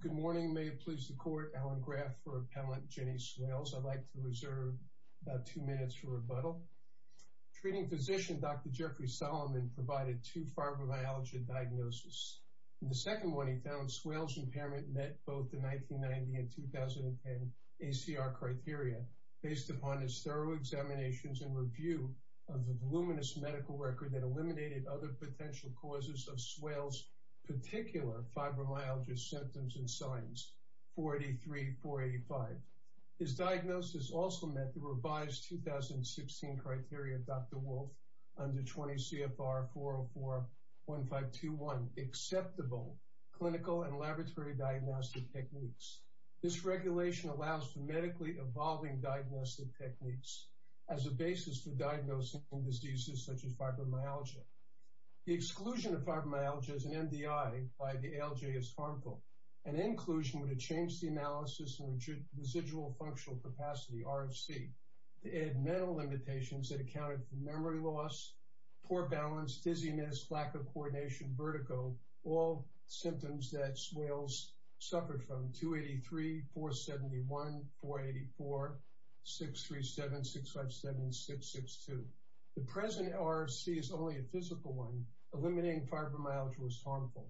Good morning may it please the court Alan Graff for appellant Jenny Swales. I'd like to reserve about two minutes for rebuttal. Treating physician Dr. Jeffrey Solomon provided two fibromyalgia diagnoses. In the second one he found Swales impairment met both the 1990 and 2010 ACR criteria based upon his thorough examinations and review of the voluminous medical record that 43485. His diagnosis also met the revised 2016 criteria Dr. Wolf under 20 CFR 4041521 acceptable clinical and laboratory diagnostic techniques. This regulation allows for medically evolving diagnostic techniques as a basis for diagnosing diseases such as fibromyalgia. The exclusion of fibromyalgia as an MDI by the ALJ is harmful. An inclusion would have changed the analysis and residual functional capacity RFC to add mental limitations that accounted for memory loss, poor balance, dizziness, lack of coordination, vertigo, all symptoms that Swales suffered from 283, 471, 484, 637, 657, 662. The present RFC is only a physical one eliminating fibromyalgia was harmful.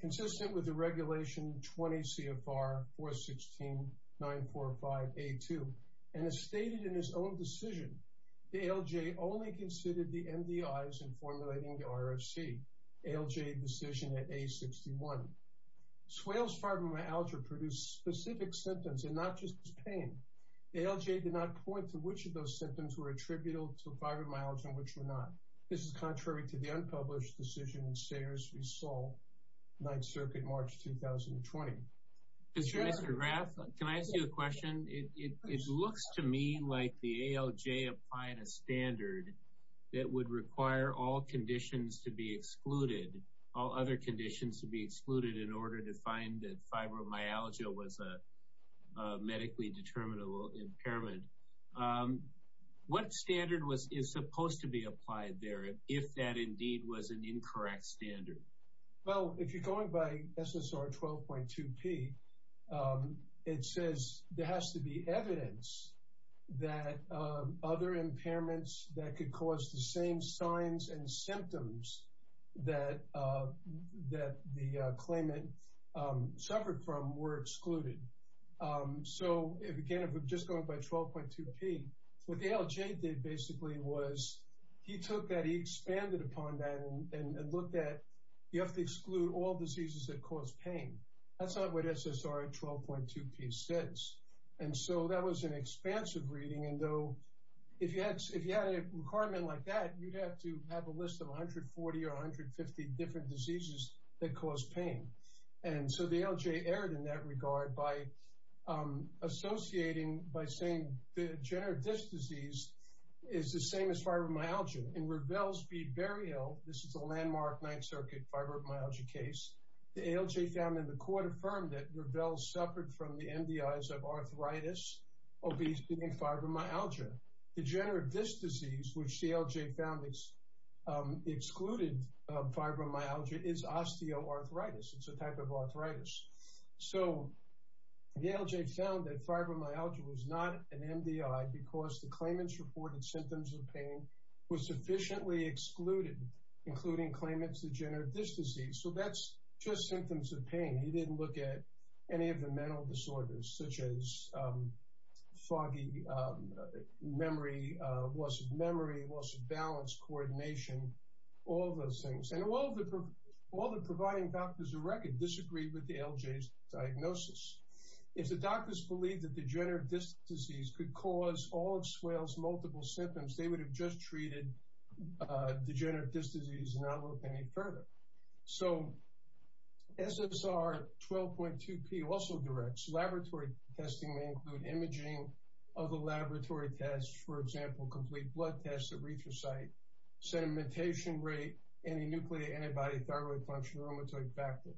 Consistent with the regulation 20 CFR 416 945 A2 and as stated in his own decision the ALJ only considered the MDIs in formulating the RFC ALJ decision at A61. Swales fibromyalgia produced specific symptoms and not just pain. ALJ did not point to which of those symptoms were attributable to fibromyalgia and which were not. This is contrary to the unpublished decision in Sayers v. Saul, 9th Circuit, March 2020. Mr. Graf, can I ask you a question? It looks to me like the ALJ applying a standard that would require all conditions to be in order to find that fibromyalgia was a medically determinable impairment. What standard is supposed to be applied there if that indeed was an incorrect standard? Well, if you're going by SSR 12.2 P, it says there has to be evidence that other impairments that could cause the same signs and symptoms that the claimant suffered from were excluded. So, again, if we're just going by 12.2 P, what ALJ did basically was he took that, he expanded upon that and looked at you have to exclude all diseases that cause pain. That's not what SSR 12.2 P says and so that was an expansive reading and though if you had a requirement like that, you'd have to have a list of 140 or 150 different diseases that cause pain. And so the ALJ erred in that regard by associating by saying the degenerative disc disease is the same as fibromyalgia. In Revelle's bead burial, this is a landmark 9th Circuit fibromyalgia case, the ALJ found in the court affirmed that Revelle suffered from the degenerative disc disease, which the ALJ found is excluded fibromyalgia is osteoarthritis. It's a type of arthritis. So the ALJ found that fibromyalgia was not an MDI because the claimant's reported symptoms of pain was sufficiently excluded, including claimant's degenerative disc disease. So that's just symptoms of pain. He didn't look at any of the mental disorders such as the memory, loss of memory, loss of balance, coordination, all those things. And all the providing doctors of record disagreed with the ALJ's diagnosis. If the doctors believed that degenerative disc disease could cause all of Swale's multiple symptoms, they would have just treated degenerative disc disease and not looked any further. So SSR 12.2 P also directs laboratory testing may include imaging of the laboratory tests, for example, complete blood tests, erythrocyte, sedimentation rate, anti-nucleotide antibody, thyroid function, rheumatoid factor.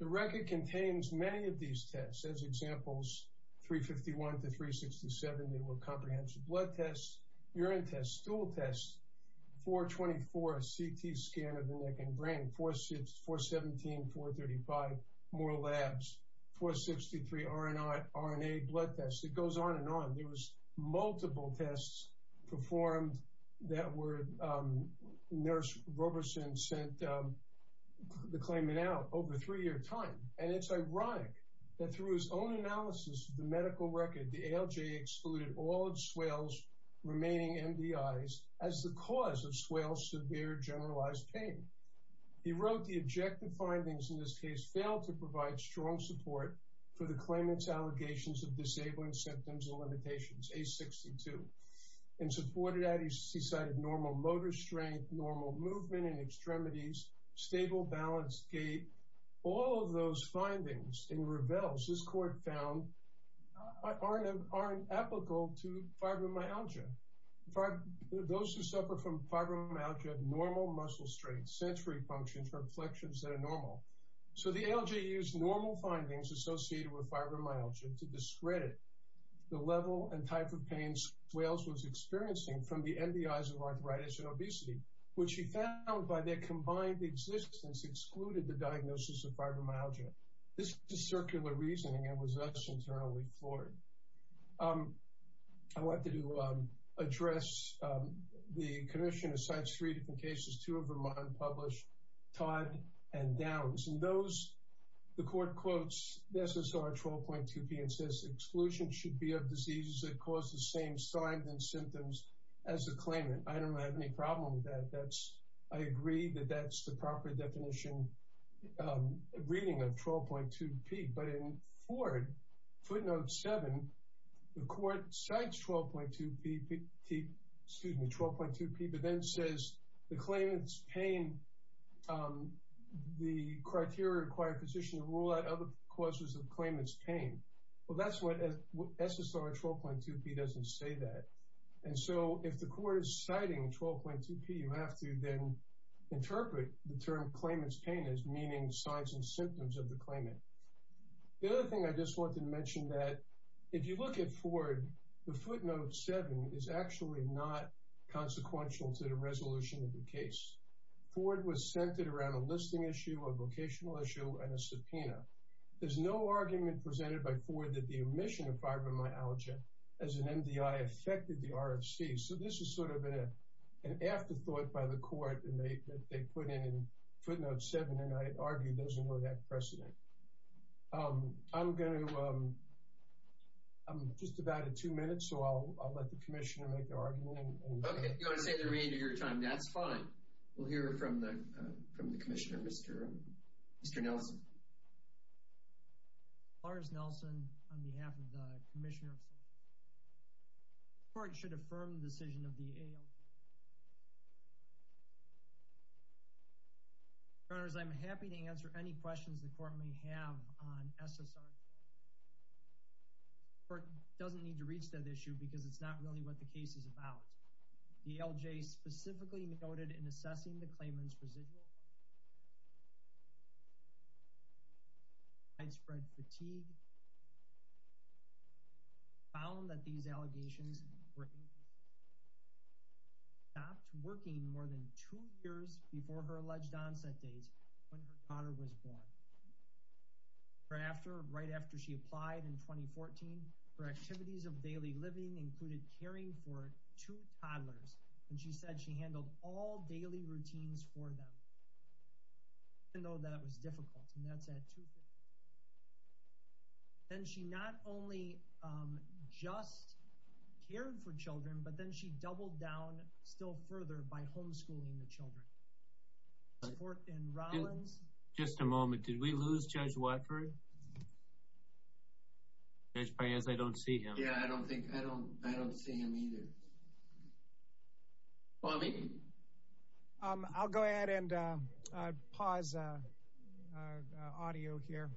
The record contains many of these tests. As examples, 351 to 367, they were comprehensive blood tests, urine tests, stool tests, 424, CT scan of the neck and brain, 417, 435, more labs, 463 RNA blood tests. It goes on and on. There was multiple tests performed that were nurse Roberson sent the claimant out over three-year time. And it's ironic that through his own analysis of the medical record, the ALJ excluded all of Swale's remaining MDIs as the cause of Swale's severe generalized pain. He wrote the objective findings in this case failed to provide strong support for the claimant's allegations of disabling symptoms and limitations, A62. And supported that he cited normal motor strength, normal movement in extremities, stable balance, gait, all of those findings and reveals his court found aren't apical to fibromyalgia. Those who suffer from fibromyalgia have normal muscle strength, sensory functions, or inflections that are normal. So the ALJ used normal findings associated with fibromyalgia to discredit the level and type of pains Swale's was experiencing from the MDIs of arthritis and obesity, which he found by their combined existence excluded the diagnosis of fibromyalgia. This is circular reasoning and was thus internally floored. I wanted to address the commission that cites three different cases, two of them unpublished, Todd and Downs. And those, the court quotes SSR 12.2p and says exclusion should be of diseases that cause the same signs and symptoms as the claimant. I don't have any problem with that. I agree that that's the proper definition reading of 12.2p. But in Ford footnote seven, the court cites 12.2p, excuse me, 12.2p, but then says the claimant's pain, the criteria required physician to rule out other causes of claimant's pain. Well, that's what SSR 12.2p doesn't say that. And so if the court is citing 12.2p, you have to then interpret the term claimant's pain as meaning signs and symptoms of the claimant. The other thing I just wanted to mention that if you look at Ford, the footnote seven is actually not consequential to the resolution of the case. Ford was centered around a listing issue, a vocational issue, and a subpoena. There's no argument presented by Ford that the omission of fibromyalgia as an MDI affected the RFC. So this is sort of an afterthought by the court that they put in footnote seven, and I argue doesn't really have precedent. I'm going to, I'm just about at two minutes, so I'll let the commissioner make the argument. Okay, if you want to say the remainder of your time, that's fine. We'll hear from the commissioner. Lars Nelson on behalf of the commissioner. The court should affirm the decision of the ALJ. Your Honors, I'm happy to answer any questions the court may have on SSR 12.2. The court doesn't need to reach that issue because it's not really what the case is about. The ALJ specifically noted in assessing the claimant's residual, widespread fatigue, found that these allegations were stopped working more than two years before her alleged onset dates when her daughter was born. Her after, right after she applied in 2014, her activities of daily living included caring for two toddlers, and she said she handled all daily routines for them, even though that was difficult, and that's at 250. Then she not only just cared for children, but then she doubled down still further by homeschooling the children. The court in Rollins... Just a moment. Did we lose Judge Watford? Judge Paez, I don't see him. Yeah, I don't think... I don't see him either. Bobby? I'll go ahead and pause audio here.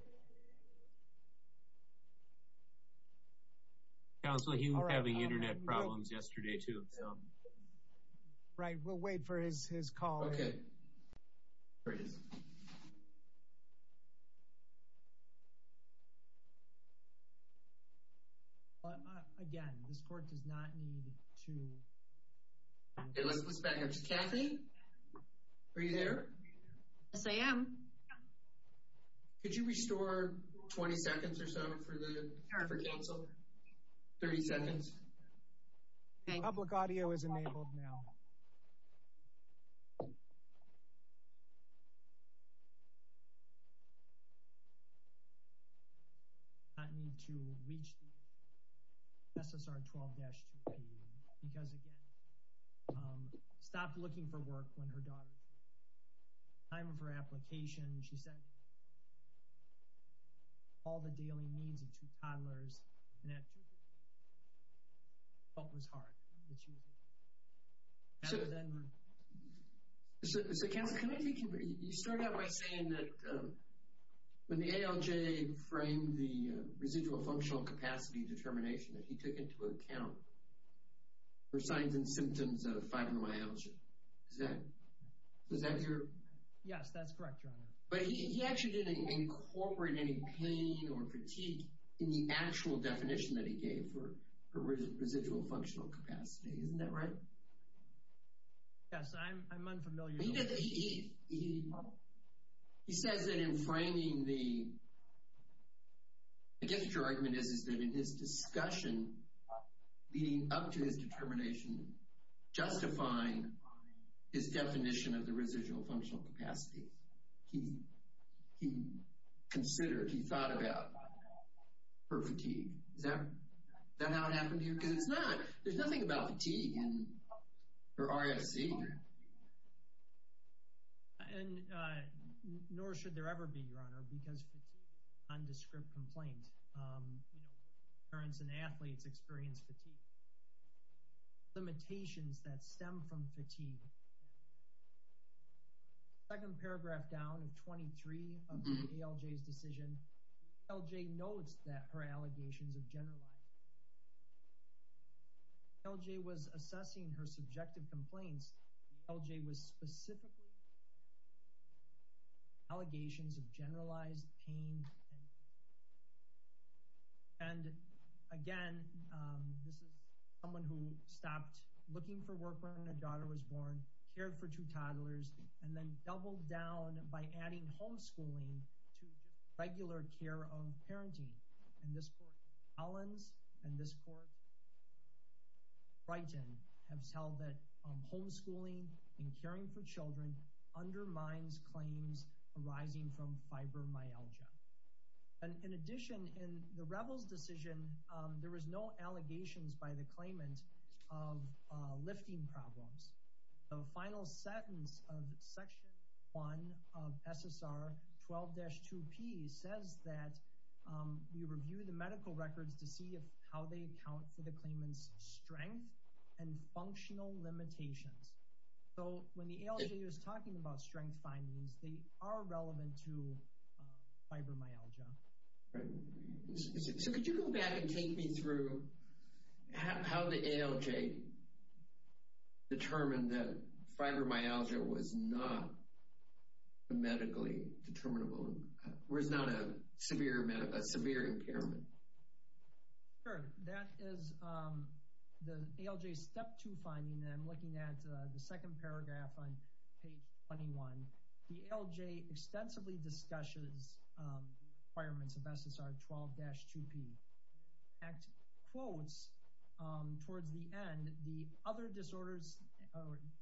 Counselor, he was having internet problems yesterday, too. Right, we'll wait for his call. Okay. There he is. Again, this court does not need to... Okay, let's back up to Kathy. Are you there? Yes, I am. Could you restore 20 seconds or so for counsel? 30 seconds. Public audio is enabled now. Public audio is enabled now. ...not need to reach the SSR 12-2P because, again, stopped looking for work when her daughter... Time of her application, she said... ...all the daily needs of two toddlers, and that... ...thought was hard that she was... So... So, counsel, can I take your... You started out by saying that when the ALJ framed the residual functional capacity determination that he took into account for signs and symptoms of fibromyalgia. Is that... Is that your... Yes, that's correct, Your Honor. But he actually didn't incorporate any pain or fatigue in the actual definition that he gave for residual functional capacity. Isn't that right? Yes, I'm unfamiliar... He said that in framing the... I guess what your argument is is that in his discussion leading up to his determination justifying his definition of the residual functional capacity, he considered, he thought about her fatigue. Is that how it happened to you? Because it's not... There's nothing about fatigue in her RSC. And nor should there ever be, Your Honor, because fatigue is an indescribable complaint. You know, parents and athletes experience fatigue. Limitations that stem from fatigue. Second paragraph down of 23 of the ALJ's decision, ALJ notes that her allegations of generalized... ALJ was assessing her subjective complaints. The ALJ was specifically... Allegations of generalized pain... And again, this is someone who stopped looking for work when their daughter was born, cared for two toddlers, and then doubled down by adding homeschooling to regular care of parenting. And this Court Collins and this Court Brighton have held that homeschooling and caring for children undermines claims arising from fibromyalgia. And in addition, in the Revell's decision, there was no allegations by the claimant of lifting problems. The final sentence of Section 1 of SSR 12-2P says that we review the medical records to see how they account for the claimant's strength and functional limitations. So when the ALJ was talking about strength findings, they are relevant to fibromyalgia. Right. So could you go back and take me through how the ALJ determined that fibromyalgia was not medically determinable? Or is not a severe impairment? Sure. That is the ALJ Step 2 finding. And I'm looking at the second paragraph on page 21. The ALJ extensively discusses requirements of SSR 12-2P. Act quotes towards the end, the other disorders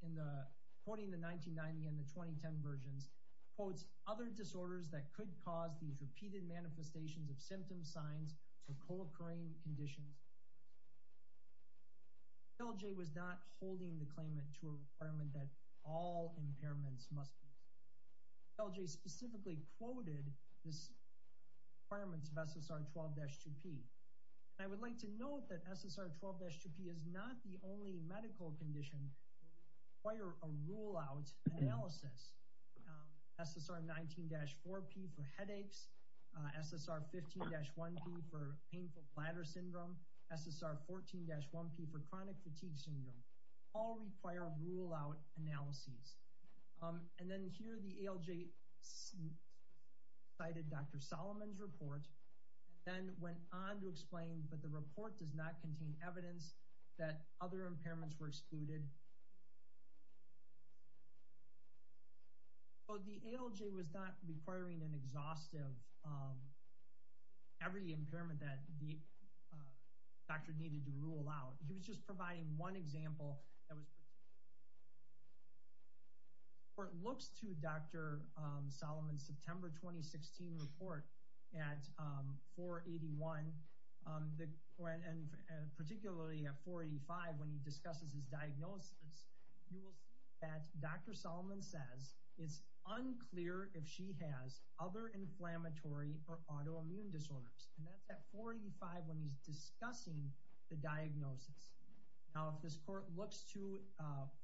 in the... Quoting the 1990 and the 2010 versions, quotes other disorders that could cause these repeated manifestations of symptom signs or co-occurring conditions. ALJ was not holding the claimant to a requirement that all impairments must be. ALJ specifically quoted this requirements of SSR 12-2P. And I would like to note that SSR 12-2P is not the only medical condition require a rule out analysis. SSR 19-4P for headaches, SSR 15-1P for painful bladder syndrome, SSR 14-1P for chronic fatigue syndrome, all require rule out analyses. And then here the ALJ cited Dr. Solomon's report and then went on to explain, but the report does not contain evidence that other impairments were excluded. So the ALJ was not requiring an exhaustive, every impairment that the doctor needed to rule out. He was just providing one example that was... Or it looks to Dr. Solomon's September 2016 report at 481, and particularly at 485 when he discusses his diagnosis, you will see that Dr. Solomon says, it's unclear if she has other inflammatory or autoimmune disorders. And that's at 485 when he's discussing the diagnosis. Now, if this court looks to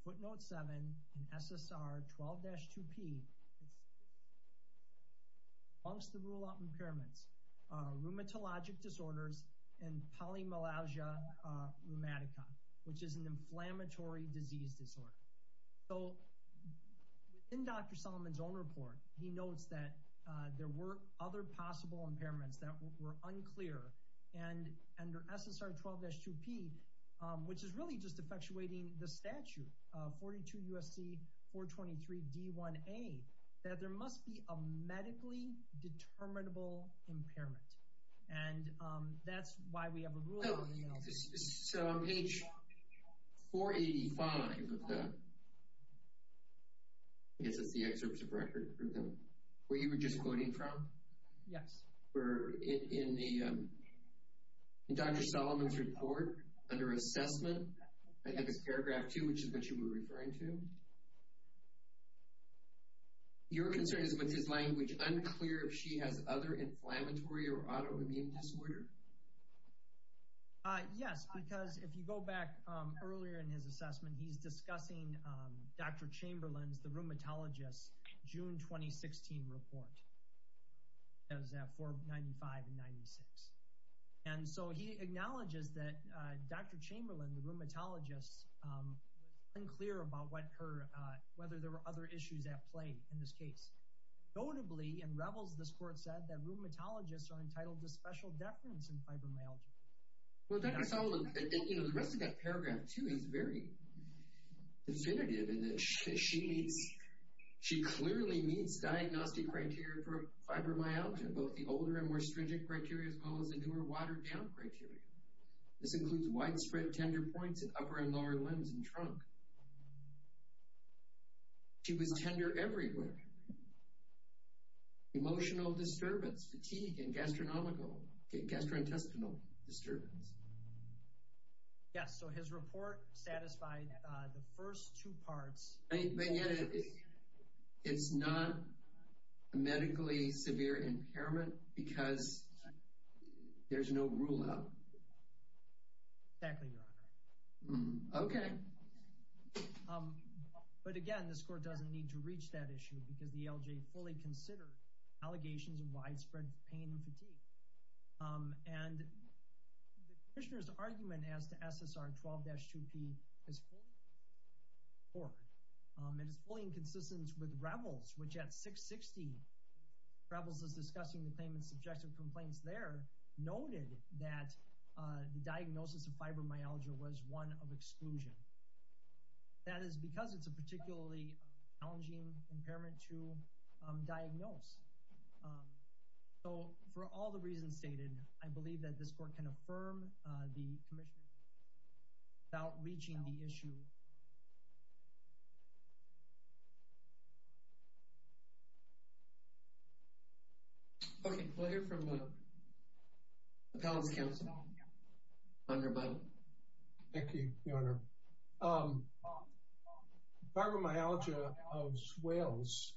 footnote seven in SSR 12-2P, amongst the rule out impairments, rheumatologic disorders and polymalagia rheumatica, which is an inflammatory disease disorder. So within Dr. Solomon's own report, he notes that there were other possible impairments that were unclear. And under SSR 12-2P, which is really just effectuating the statute, 42 USC 423 D1A, that there must be a medically determinable impairment. And that's why we have a rule... So on page 485 of the... I guess it's the excerpts of record. Where you were just quoting from? Yes. Where in Dr. Solomon's report under assessment, I think it's paragraph two, which is what you were referring to. Your concern is with his language unclear if she has other inflammatory or autoimmune disorder. Yes, because if you go back earlier in his assessment, he's discussing Dr. Chamberlain's, the rheumatologist, June, 2016 report. It was at 495 and 96. And so he acknowledges that Dr. Chamberlain, the rheumatologist, unclear about whether there were other issues at play in this case. Notably, in Revels, this court said that rheumatologists are entitled to special deference in fibromyalgia. Well, Dr. Solomon, the rest of that paragraph too is very definitive in that she clearly meets diagnostic criteria for fibromyalgia, both the older and more stringent criteria as well as the newer watered down criteria. This includes widespread tender points at upper and lower limbs and trunk. She was tender everywhere. Emotional disturbance, fatigue and gastronomical... gastrointestinal disturbance. Yes, so his report satisfied the first two parts. It's not a medically severe impairment because there's no rule out. Exactly, Your Honor. Okay. But again, this court doesn't need to reach that issue because the LJ fully considered allegations of widespread pain and fatigue. And the commissioner's argument as to SSR 12-2P is fully in accord. It is fully in consistence with Revels, which at 660, Revels was discussing the claimant's subjective complaints there, noted that the diagnosis of fibromyalgia was one of exclusion. That is because it's a particularly challenging impairment to diagnose. So for all the reasons stated, I believe that this court can affirm the commission without reaching the issue. Okay, we'll hear from the appellant's counsel, Your Honor. Thank you, Your Honor. Okay. Fibromyalgia of swells,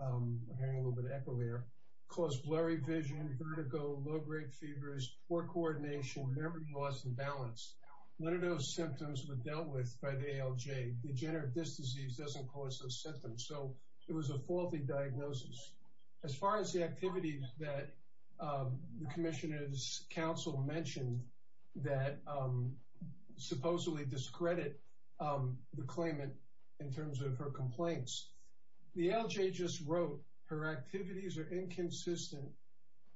we're hearing a little bit of echo here, caused blurry vision, vertigo, low-grade fevers, poor coordination, memory loss, imbalance. One of those symptoms was dealt with by the ALJ. Degenerative disc disease doesn't cause those symptoms. So it was a faulty diagnosis. As far as the activity that the commissioner's counsel mentioned that supposedly discredit the claimant in terms of her complaints, the ALJ just wrote, her activities are inconsistent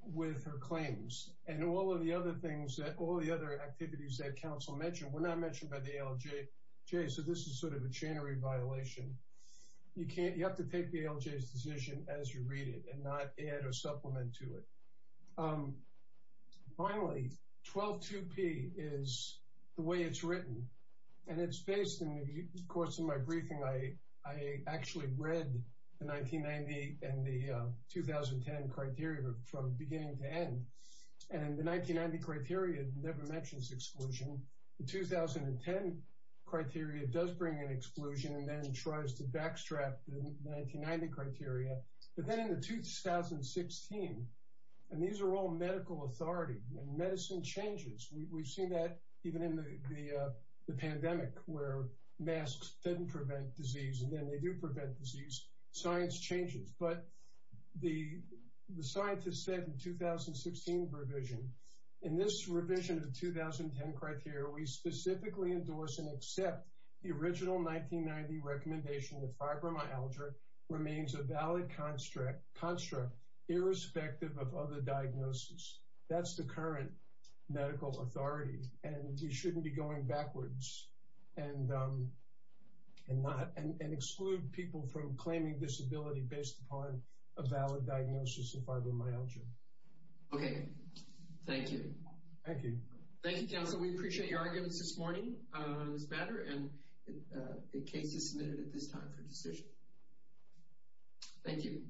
with her claims. And all of the other things, all the other activities that counsel mentioned were not mentioned by the ALJ. So this is sort of a chain of re-violation. You have to take the ALJ's decision as you read it and not add or supplement to it. And finally, 12-2P is the way it's written. And it's based in the course of my briefing. I actually read the 1990 and the 2010 criteria from beginning to end. And the 1990 criteria never mentions exclusion. The 2010 criteria does bring an exclusion and then tries to backstrap the 1990 criteria. But then in the 2016, and these are all medical authority and medicine changes. We've seen that even in the pandemic where masks didn't prevent disease and then they do prevent disease, science changes. But the scientists said in the 2016 revision, in this revision of the 2010 criteria, we specifically endorse and accept the original 1990 recommendation that fibromyalgia remains a valid construct irrespective of other diagnosis. That's the current medical authority and you shouldn't be going backwards and exclude people from claiming disability based upon a valid diagnosis of fibromyalgia. Okay. Thank you. Thank you. Thank you, counsel. We appreciate your arguments this morning, Ms. Bader. And the case is submitted at this time for decision. Thank you.